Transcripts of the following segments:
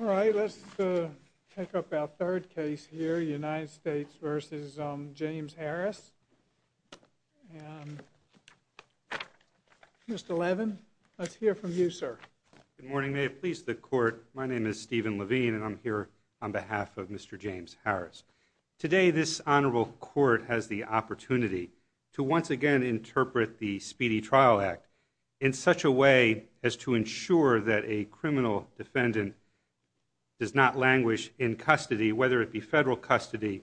All right, let's pick up our third case here, United States v. James Harris, Mr. Levin, let's hear from you, sir. Good morning. May it please the Court, my name is Stephen Levine and I'm here on behalf of Mr. James Harris. Today, this Honorable Court has the opportunity to once again interpret the Speedy Trial Act in such a way as to ensure that a criminal defendant does not languish in custody, whether it be federal custody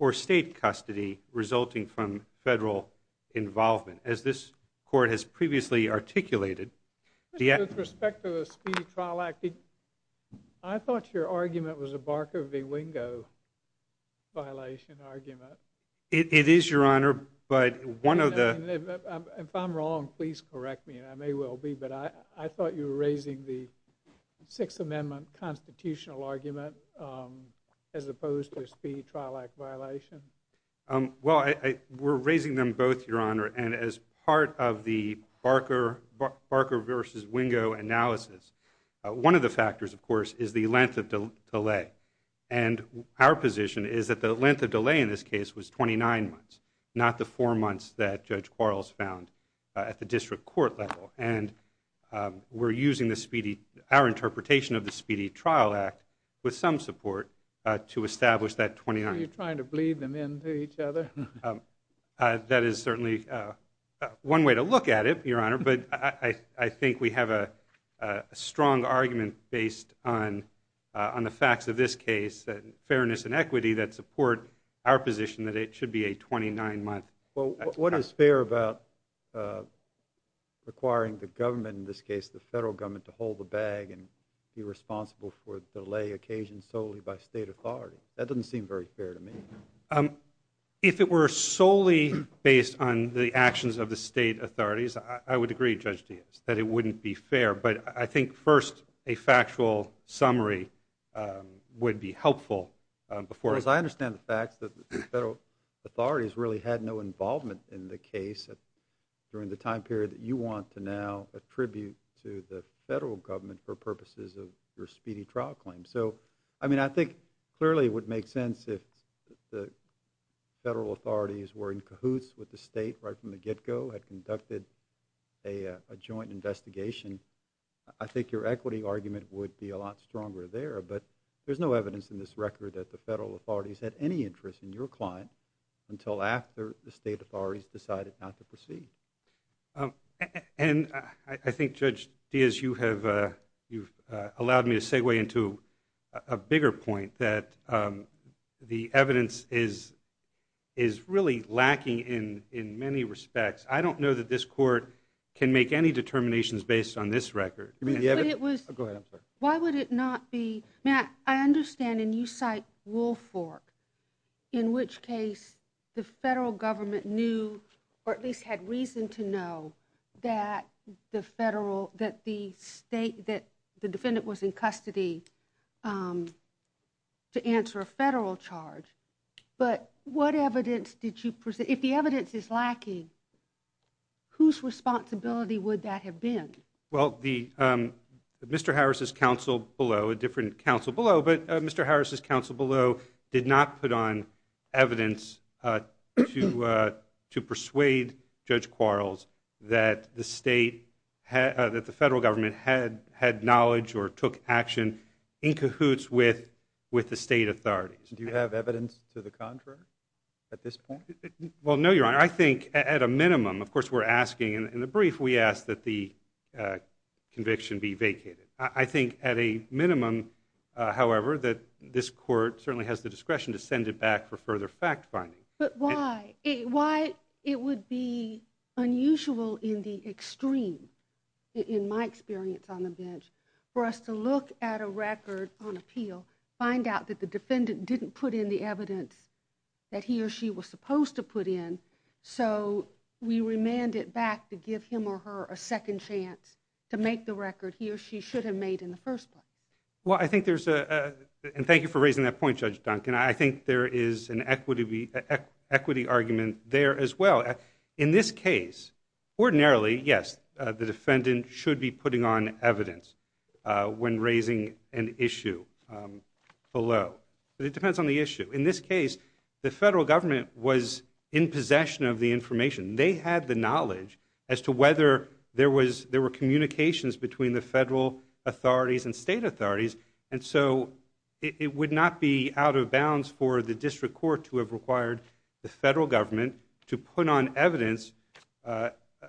or state custody, resulting from federal involvement. As this Court has previously articulated, the act— With respect to the Speedy Trial Act, I thought your argument was a Barker v. Wingo violation argument. It is, Your Honor, but one of the— If I'm wrong, please correct me, and I may well be, but I thought you were raising the Sixth Amendment constitutional argument as opposed to a Speedy Trial Act violation. Well, we're raising them both, Your Honor, and as part of the Barker v. Wingo analysis, one of the factors, of course, is the length of delay. And our position is that the length of delay in this case was 29 months, not the four months that Judge Quarles found at the district court level. And we're using our interpretation of the Speedy Trial Act with some support to establish that 29— Are you trying to bleed them into each other? That is certainly one way to look at it, Your Honor, but I think we have a strong argument based on the facts of this case, fairness and equity, that support our position that it should be a 29-month— What is fair about requiring the government, in this case the federal government, to hold the bag and be responsible for delay occasions solely by state authority? That doesn't seem very fair to me. If it were solely based on the actions of the state authorities, I would agree, Judge Diaz, that it wouldn't be fair. But I think, first, a factual summary would be helpful before— Well, as far as I understand the facts, the federal authorities really had no involvement in the case during the time period that you want to now attribute to the federal government for purposes of your speedy trial claim. So, I mean, I think clearly it would make sense if the federal authorities were in cahoots with the state right from the get-go, had conducted a joint investigation. I think your equity argument would be a lot stronger there, but there's no evidence in this record that the federal authorities had any interest in your client until after the state authorities decided not to proceed. And I think, Judge Diaz, you've allowed me to segue into a bigger point, that the evidence is really lacking in many respects. I don't know that this Court can make any determinations based on this record. But it was— Go ahead. I'm sorry. I'm just curious. When you cite Woolfolk, in which case the federal government knew, or at least had reason to know, that the state—that the defendant was in custody to answer a federal charge. But what evidence did you—if the evidence is lacking, whose responsibility would that have been? Well, Mr. Harris' counsel below—a different counsel below—but Mr. Harris' counsel below did not put on evidence to persuade Judge Quarles that the state—that the federal government had knowledge or took action in cahoots with the state authorities. Do you have evidence to the contrary at this point? Well, no, Your Honor. I think at a minimum—of course, we're asking—in the brief, we ask that the conviction be vacated. I think at a minimum, however, that this Court certainly has the discretion to send it back for further fact-finding. But why? Why it would be unusual in the extreme, in my experience on the bench, for us to look at a record on appeal, find out that the defendant didn't put in the evidence that he or she was supposed to put in, so we remand it back to give him or her a second chance to make the record he or she should have made in the first place. Well, I think there's a—and thank you for raising that point, Judge Duncan. I think there is an equity argument there as well. In this case, ordinarily, yes, the defendant should be putting on evidence when raising an issue below. It depends on the issue. In this case, the federal government was in possession of the information. They had the knowledge as to whether there were communications between the federal authorities and state authorities, and so it would not be out of bounds for the District Court to have required the federal government to put on evidence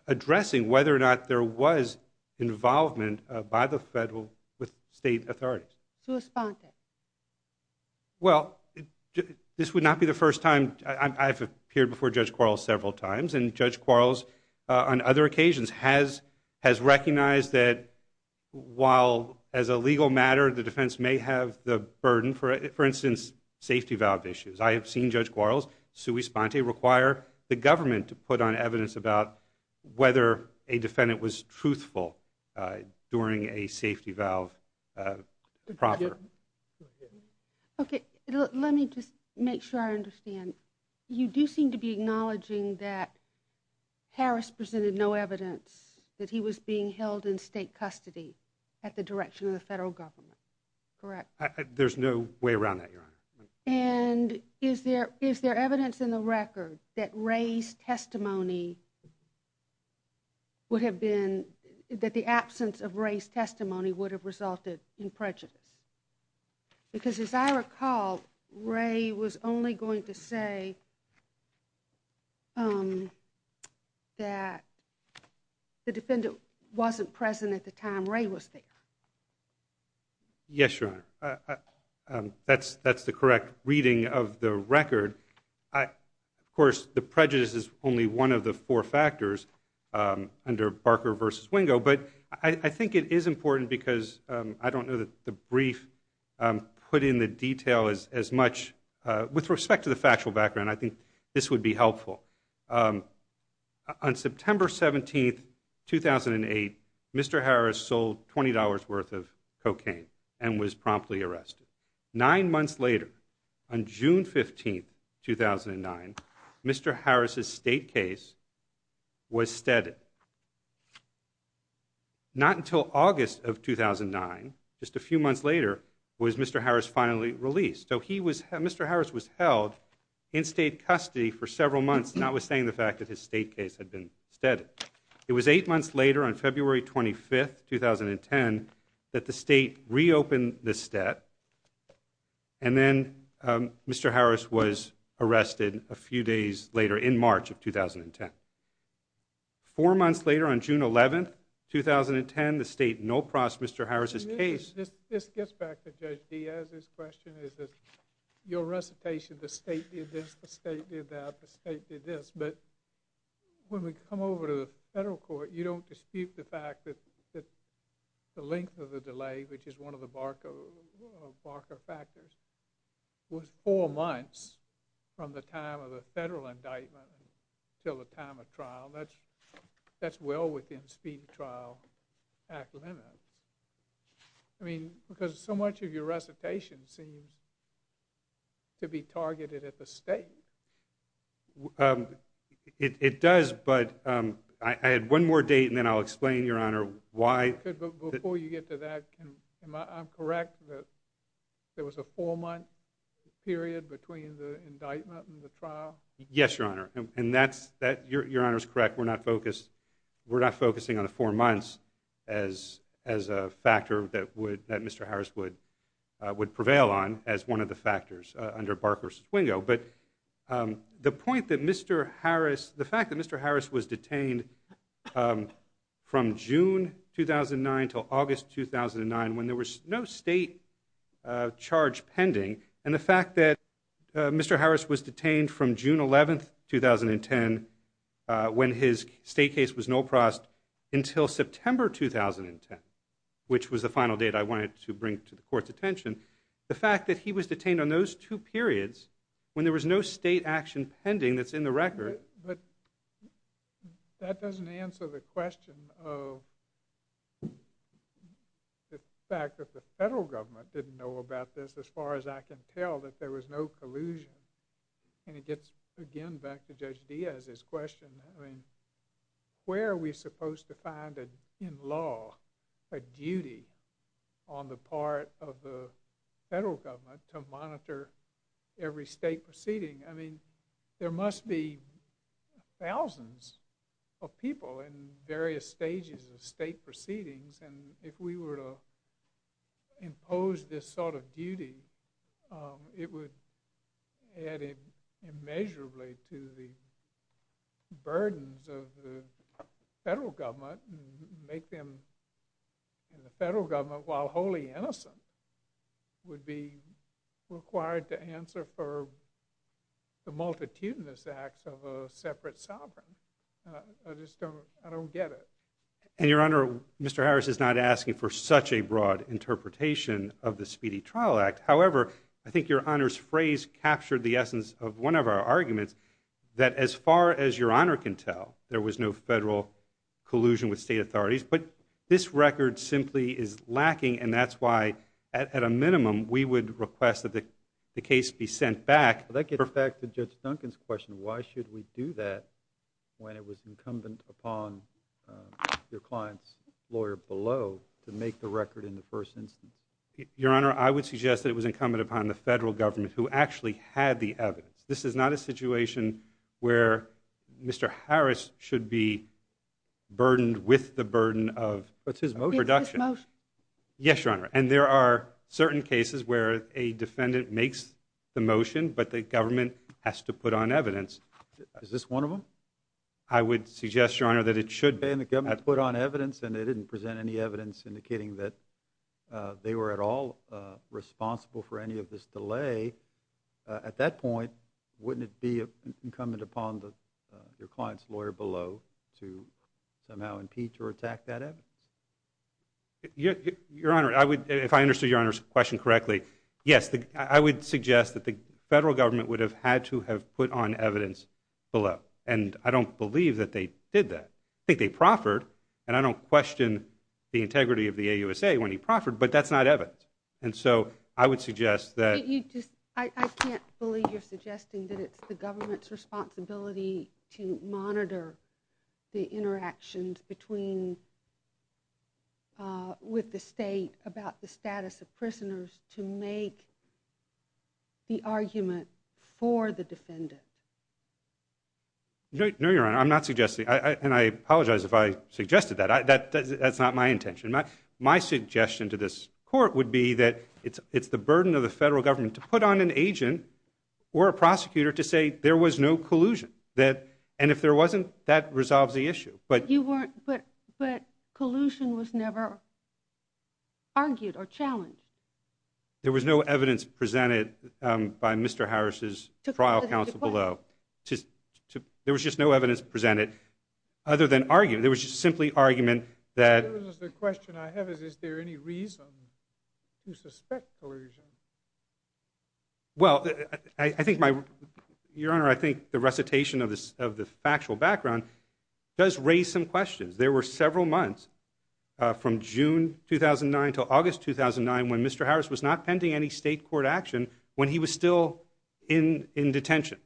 addressing whether or not there was involvement by the federal with state authorities. Sui sponte. Well, this would not be the first time—I've appeared before Judge Quarles several times, and Judge Quarles on other occasions has recognized that while as a legal matter, the defense may have the burden, for instance, safety valve issues. I have seen Judge Quarles, sui sponte, require the government to put on evidence about whether a defendant was truthful during a safety valve proffer. Okay, let me just make sure I understand. You do seem to be acknowledging that Harris presented no evidence that he was being held in state custody at the direction of the federal government, correct? There's no way around that, Your Honor. And is there evidence in the record that Ray's testimony would have been—that the absence of Ray's testimony would have resulted in prejudice? Because as I recall, Ray was only going to say that the defendant wasn't present at the time Ray was there. Yes, Your Honor. That's the correct reading of the record. Of course, the prejudice is only one of the four factors under Barker v. Wingo, but I think it is important because I don't know that the brief put in the detail as much—with respect to the factual background, I think this would be helpful. On September 17, 2008, Mr. Harris sold $20 worth of cocaine and was promptly arrested. Nine months later, on June 15, 2009, Mr. Harris' state case was steadied. Not until August of 2009, just a few months later, was Mr. Harris finally released. So Mr. Harris was held in state custody for several months, notwithstanding the fact that his state case had been steadied. It was eight months later, on February 25, 2010, that the state reopened the state, and then Mr. Harris was arrested a few days later, in March of 2010. Four months later, on June 11, 2010, the state no-prossed Mr. Harris' case. This gets back to Judge Diaz's question, is that your recitation, the state did this, the state did that, the state did this, but when we come over to the federal court, you don't dispute the fact that the length of the delay, which is one of the Barker factors, was four months from the time of the federal indictment until the time of trial. That's well within speed trial act limits. I mean, because so much of your recitation seems to be targeted at the state. It does, but I had one more date, and then I'll explain, Your Honor, why. Before you get to that, am I correct that there was a four-month period between the indictment and the trial? Yes, Your Honor, and Your Honor is correct, we're not focusing on the four months as a factor that Mr. Harris would prevail on as one of the factors under Barker's swingo. But the point that Mr. Harris, the fact that Mr. Harris was detained from June 2009 until August 2009, when there was no state charge pending, and the fact that Mr. Harris was detained from June 11, 2010, when his state case was null processed, until September 2010, which was the final date I wanted to bring to the court's attention, the fact that he was detained on those two periods when there was no state action pending that's in the record. But that doesn't answer the question of the fact that the federal government didn't know about this as far as I can tell, that there was no collusion, and it gets again back to Judge Diaz's question, I mean, where are we supposed to find in law a duty on the part of the federal government to monitor every state proceeding? I mean, there must be thousands of people in various stages of state proceedings, and if we were to impose this sort of duty, it would add immeasurably to the burdens of the federal government and make them, and the federal government, while wholly innocent, would be required to answer for the multitudinous acts of a separate sovereign. I just don't, I don't get it. And, Your Honor, Mr. Harris is not asking for such a broad interpretation of the Speedy Trial Act. However, I think Your Honor's phrase captured the essence of one of our arguments, that as far as Your Honor can tell, there was no federal collusion with state authorities. But this record simply is lacking, and that's why, at a minimum, we would request that the case be sent back. But that gets back to Judge Duncan's question, why should we do that when it was incumbent upon your client's lawyer below to make the record in the first instance? Your Honor, I would suggest that it was incumbent upon the federal government, who actually had the evidence. This is not a situation where Mr. Harris should be burdened with the burden of production. But it's his motion. It's his motion. Yes, Your Honor. And there are certain cases where a defendant makes the motion, but the government has to put on evidence. Is this one of them? I would suggest, Your Honor, that it should be. And the government put on evidence, and they didn't present any evidence indicating that they were at all responsible for any of this delay. At that point, wouldn't it be incumbent upon your client's lawyer below to somehow impeach or attack that evidence? Your Honor, if I understood Your Honor's question correctly, yes. I would suggest that the federal government would have had to have put on evidence below. And I don't believe that they did that. I think they proffered. And I don't question the integrity of the AUSA when he proffered, but that's not evidence. And so I would suggest that... I can't believe you're suggesting that it's the government's responsibility to monitor the interactions with the state about the status of prisoners to make the argument for the defendant. No, Your Honor, I'm not suggesting... And I apologize if I suggested that. That's not my intention. My suggestion to this court would be that it's the burden of the federal government to put on an agent or a prosecutor to say there was no collusion. And if there wasn't, that resolves the issue. But collusion was never argued or challenged. There was no evidence presented by Mr. Harris's trial counsel below. There was just no evidence presented other than argument. There was just simply argument that... The question I have is, is there any reason to suspect collusion? Well, I think my... Your Honor, I think the recitation of the factual background does raise some questions. There were several months from June 2009 to August 2009 when Mr. Harris was not pending any state court action when he was still in detention.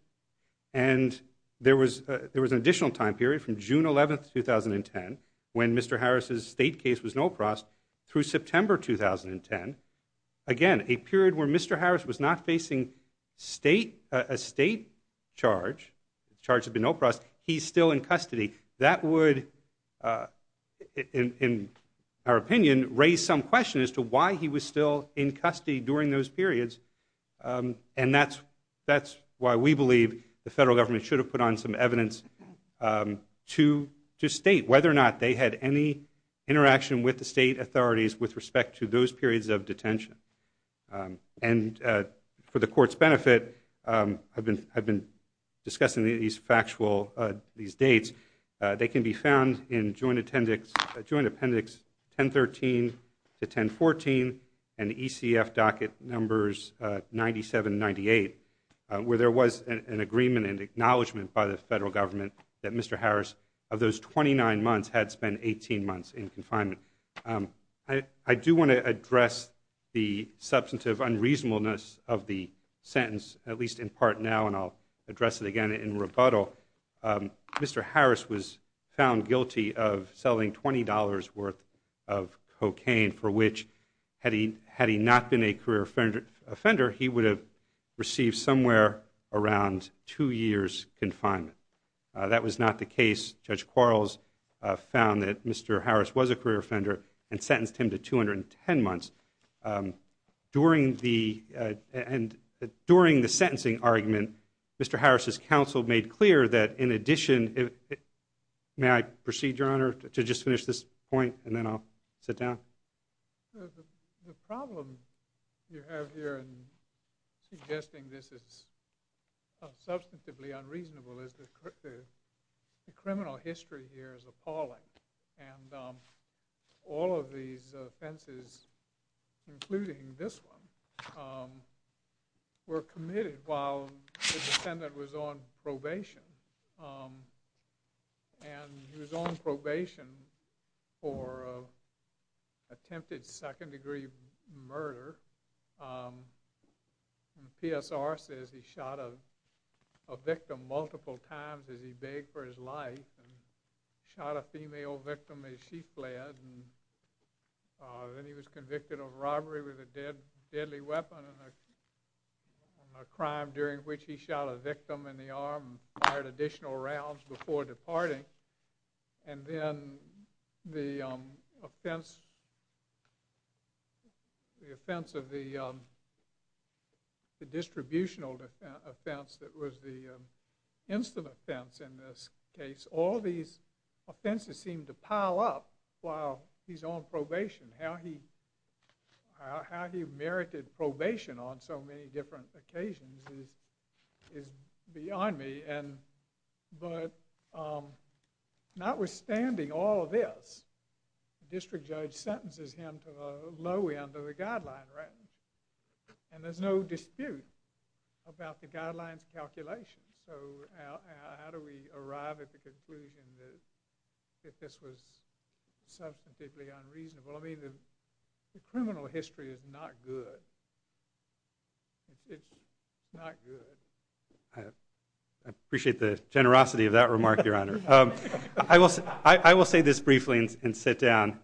And there was an additional time period from June 11, 2010, when Mr. Harris's state case was no prosecution, through September 2010. Again, a period where Mr. Harris was not facing a state charge, the charge of no prosecution, he's still in custody. That would, in our opinion, raise some question as to why he was still in custody during those periods. And that's why we believe the federal government should have put on some evidence to state whether or not they had any interaction with the state authorities with respect to those periods of detention. And for the court's benefit, I've been discussing these factual... These dates. They can be found in joint appendix 1013 to 1014 and the ECF docket numbers 97 and 98, where there was an agreement and acknowledgement by the federal government that Mr. Harris, of those 29 months, had spent 18 months in confinement. I do want to address the substantive unreasonableness of the sentence, at least in part now, and I'll address it again in rebuttal. Mr. Harris was found guilty of selling $20 worth of cocaine, for which, had he not been a career offender, he would have received somewhere around two years' confinement. That was not the case. Judge Quarles found that Mr. Harris was a career offender and sentenced him to 210 months. During the sentencing argument, Mr. Harris' counsel made clear that, in addition... May I proceed, Your Honor, to just finish this point and then I'll sit down? The problem you have here in suggesting this is substantively unreasonable is the criminal history here is appalling and all of these offenses, including this one, were committed while the defendant was on probation. He was on probation for attempted second-degree murder. The PSR says he shot a victim multiple times as he begged for his life and shot a female victim as she fled. Then he was convicted of robbery with a deadly weapon and a crime during which he shot a victim in the arm and fired additional rounds before departing. And then the offense of the distributional offense that was the instant offense in this case, all these offenses seem to pile up while he's on probation. How he merited probation on so many different occasions is beyond me, but notwithstanding all of this, the district judge sentences him to the low end of the guideline range and there's no dispute about the guideline's calculations. So how do we arrive at the conclusion that this was substantively unreasonable? I mean, the criminal history is not good. It's not good. I appreciate the generosity of that remark, Your Honor. I will say this briefly and sit down.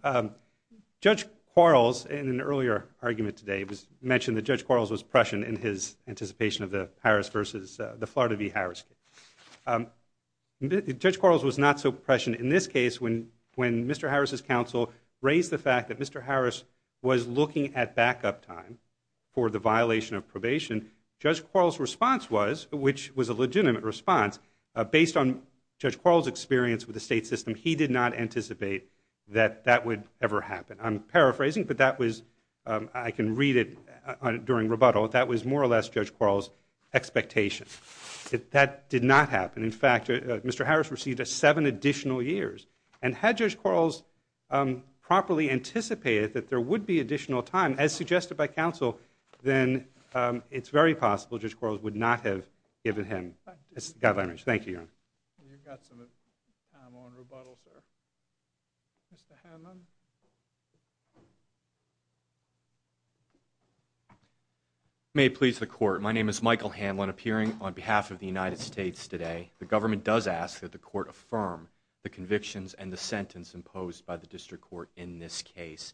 Judge Quarles, in an earlier argument today, mentioned that Judge Quarles was Prussian in his anticipation of the Harris versus the Florida v. Harris case. Judge Quarles was not so Prussian in this case when Mr. Harris' counsel raised the fact that Mr. Harris was looking at backup time for the violation of probation. Judge Quarles' response was, which was a legitimate response, based on Judge Quarles' experience with the state system, he did not anticipate that that would ever happen. I'm paraphrasing, but I can read it during rebuttal. That was more or less Judge Quarles' expectation. That did not happen. In fact, Mr. Harris received seven additional years. And had Judge Quarles properly anticipated that there would be additional time, as suggested by counsel, then it's very possible Judge Quarles would not have given him this guideline range. Thank you, Your Honor. You've got some time on rebuttal, sir. Mr. Hanlon? May it please the Court. My name is Michael Hanlon, appearing on behalf of the United States today. The government does ask that the Court affirm the convictions and the sentence imposed by the District Court in this case.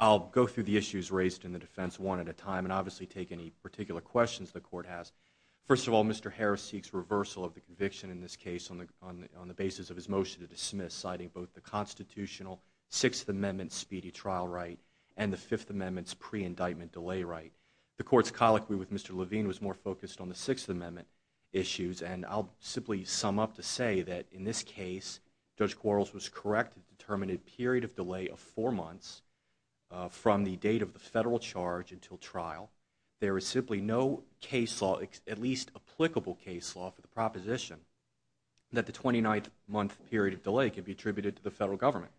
I'll go through the issues raised in the defense one at a time and obviously take any particular questions the Court has. First of all, Mr. Harris seeks reversal of the conviction in this case on the basis of his motion to dismiss, citing both the constitutional Sixth Amendment speedy trial right and the Fifth Amendment's pre-indictment delay right. The Court's colloquy with Mr. Levine was more focused on the Sixth Amendment issues, and I'll simply sum up to say that in this case, Judge Quarles was correct to determine a period of delay of four months from the date of the federal charge until trial. There is simply no case law, at least applicable case law, for the proposition that the 29th month period of delay can be attributed to the federal government.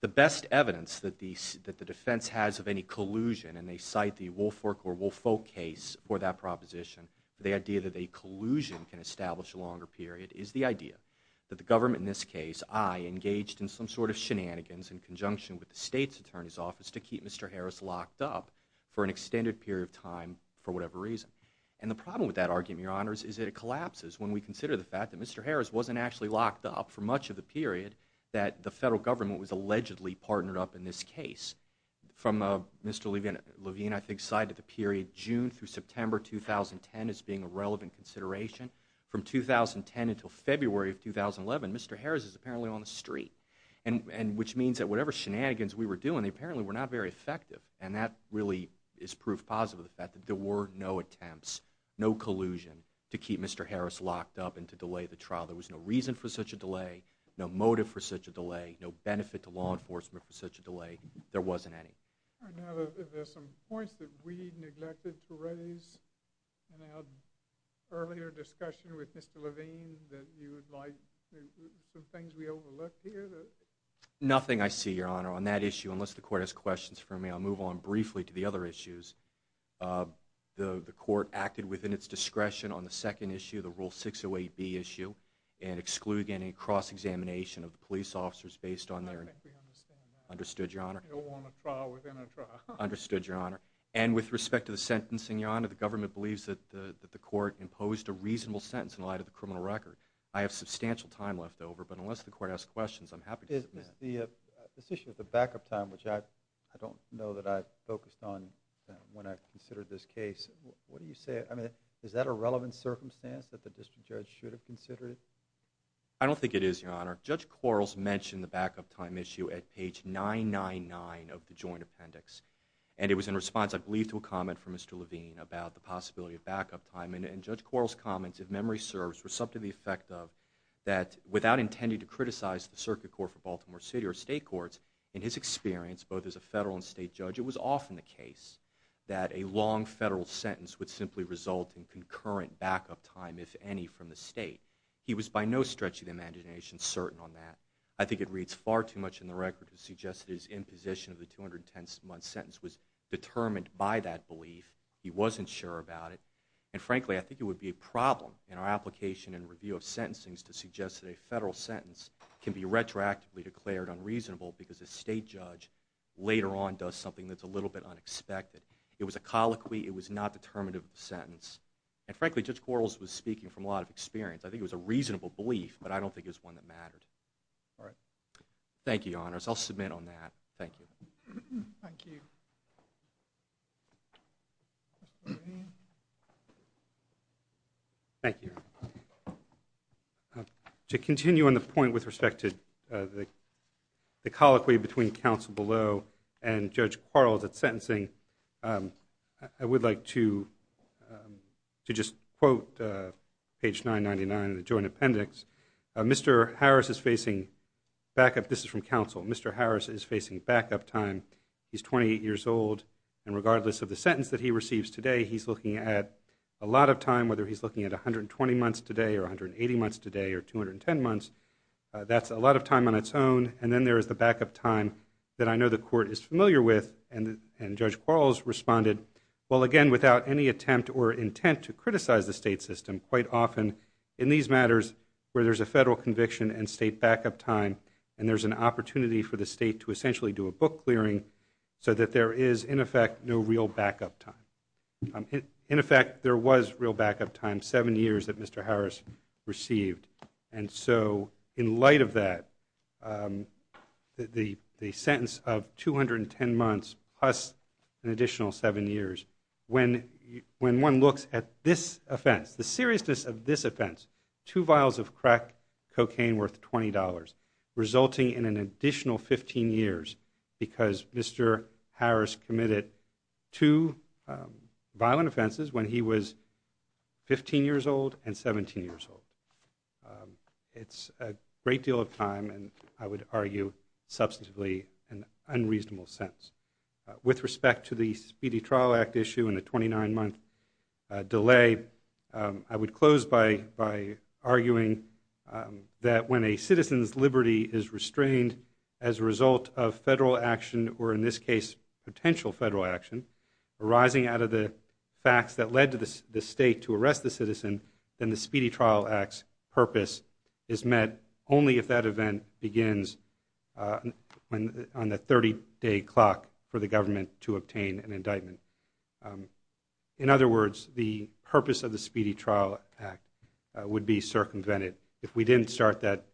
The best evidence that the defense has of any collusion, and they cite the Woolfolk or Woolfolk case for that proposition, the idea that a collusion can establish a longer period is the idea that the government in this case, I, engaged in some sort of shenanigans in conjunction with the State's Attorney's Office to keep Mr. Harris locked up for an extended period of time for whatever reason. And the problem with that argument, Your Honors, is that it collapses when we consider the for much of the period that the federal government was allegedly partnered up in this case. From Mr. Levine, I think, cited the period June through September 2010 as being a relevant consideration. From 2010 until February of 2011, Mr. Harris is apparently on the street, which means that whatever shenanigans we were doing, they apparently were not very effective. And that really is proof positive of the fact that there were no attempts, no collusion to keep Mr. Harris locked up and to delay the trial. There was no reason for such a delay, no motive for such a delay, no benefit to law enforcement for such a delay. There wasn't any. Are there some points that we neglected to raise in our earlier discussion with Mr. Levine that you would like, some things we overlooked here? Nothing, I see, Your Honor. On that issue, unless the Court has questions for me, I'll move on briefly to the other issues. The Court acted within its discretion on the second issue, the Rule 608B issue, and excluded any cross-examination of the police officers based on their... I think we understand that. Understood, Your Honor. You don't want a trial within a trial. Understood, Your Honor. And with respect to the sentencing, Your Honor, the government believes that the Court imposed a reasonable sentence in light of the criminal record. I have substantial time left over, but unless the Court has questions, I'm happy to submit. This issue of the backup time, which I don't know that I focused on when I considered this case. What do you say? I mean, is that a relevant circumstance that the District Judge should have considered I don't think it is, Your Honor. Judge Quarles mentioned the backup time issue at page 999 of the Joint Appendix, and it was in response, I believe, to a comment from Mr. Levine about the possibility of backup time, and Judge Quarles' comments, if memory serves, were something to the effect of that Without intending to criticize the Circuit Court for Baltimore City or state courts, in his experience, both as a federal and state judge, it was often the case that a long federal sentence would simply result in concurrent backup time, if any, from the state. He was by no stretch of the imagination certain on that. I think it reads far too much in the record to suggest that his imposition of the 210 month sentence was determined by that belief. He wasn't sure about it. And frankly, I think it would be a problem in our application and review of sentencing to suggest that a federal sentence can be retroactively declared unreasonable because a state judge later on does something that's a little bit unexpected. It was a colloquy. It was not determinative of the sentence. And frankly, Judge Quarles was speaking from a lot of experience. I think it was a reasonable belief, but I don't think it was one that mattered. All right. Thank you, Your Honors. I'll submit on that. Thank you. Thank you. Mr. Levine? Thank you. To continue on the point with respect to the colloquy between counsel below and Judge Quarles at sentencing, I would like to just quote page 999 of the joint appendix. Mr. Harris is facing backup. This is from counsel. Mr. Harris is facing backup time. He's 28 years old. And regardless of the sentence that he receives today, he's looking at a lot of time, whether he's looking at 120 months today or 180 months today or 210 months. That's a lot of time on its own. And then there is the backup time that I know the Court is familiar with. And Judge Quarles responded, well, again, without any attempt or intent to criticize the state system, quite often in these matters where there's a federal conviction and state backup time and there's an opportunity for the state to essentially do a book clearing so that there is, in effect, no real backup time. In effect, there was real backup time, seven years that Mr. Harris received. And so in light of that, the sentence of 210 months plus an additional seven years, when one looks at this offense, the seriousness of this offense, two vials of crack cocaine worth $20, resulting in an additional 15 years because Mr. Harris committed two violent offenses when he was 15 years old and 17 years old. It's a great deal of time and I would argue, substantively, an unreasonable sentence. With respect to the Speedy Trial Act issue and the 29-month delay, I would close by arguing that when a citizen's liberty is restrained as a result of federal action, or in this case, potential federal action, arising out of the facts that led the state to arrest the citizen, then the Speedy Trial Act's purpose is met only if that event begins on the 30-day clock for the government to obtain an indictment. In other words, the purpose of the Speedy Trial Act would be circumvented if we didn't start that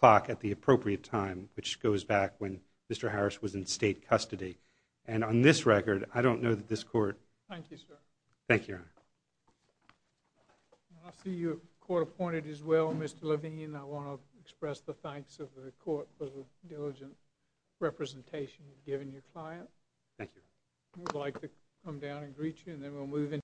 clock at the appropriate time, which goes back when Mr. Harris was in state custody. And on this record, I don't know that this Court... Thank you, sir. Thank you, Your Honor. I see you're court appointed as well, Mr. Levine. I want to express the thanks of the Court for the diligent representation you've given your client. Thank you. I would like to come down and greet you, and then we'll move into...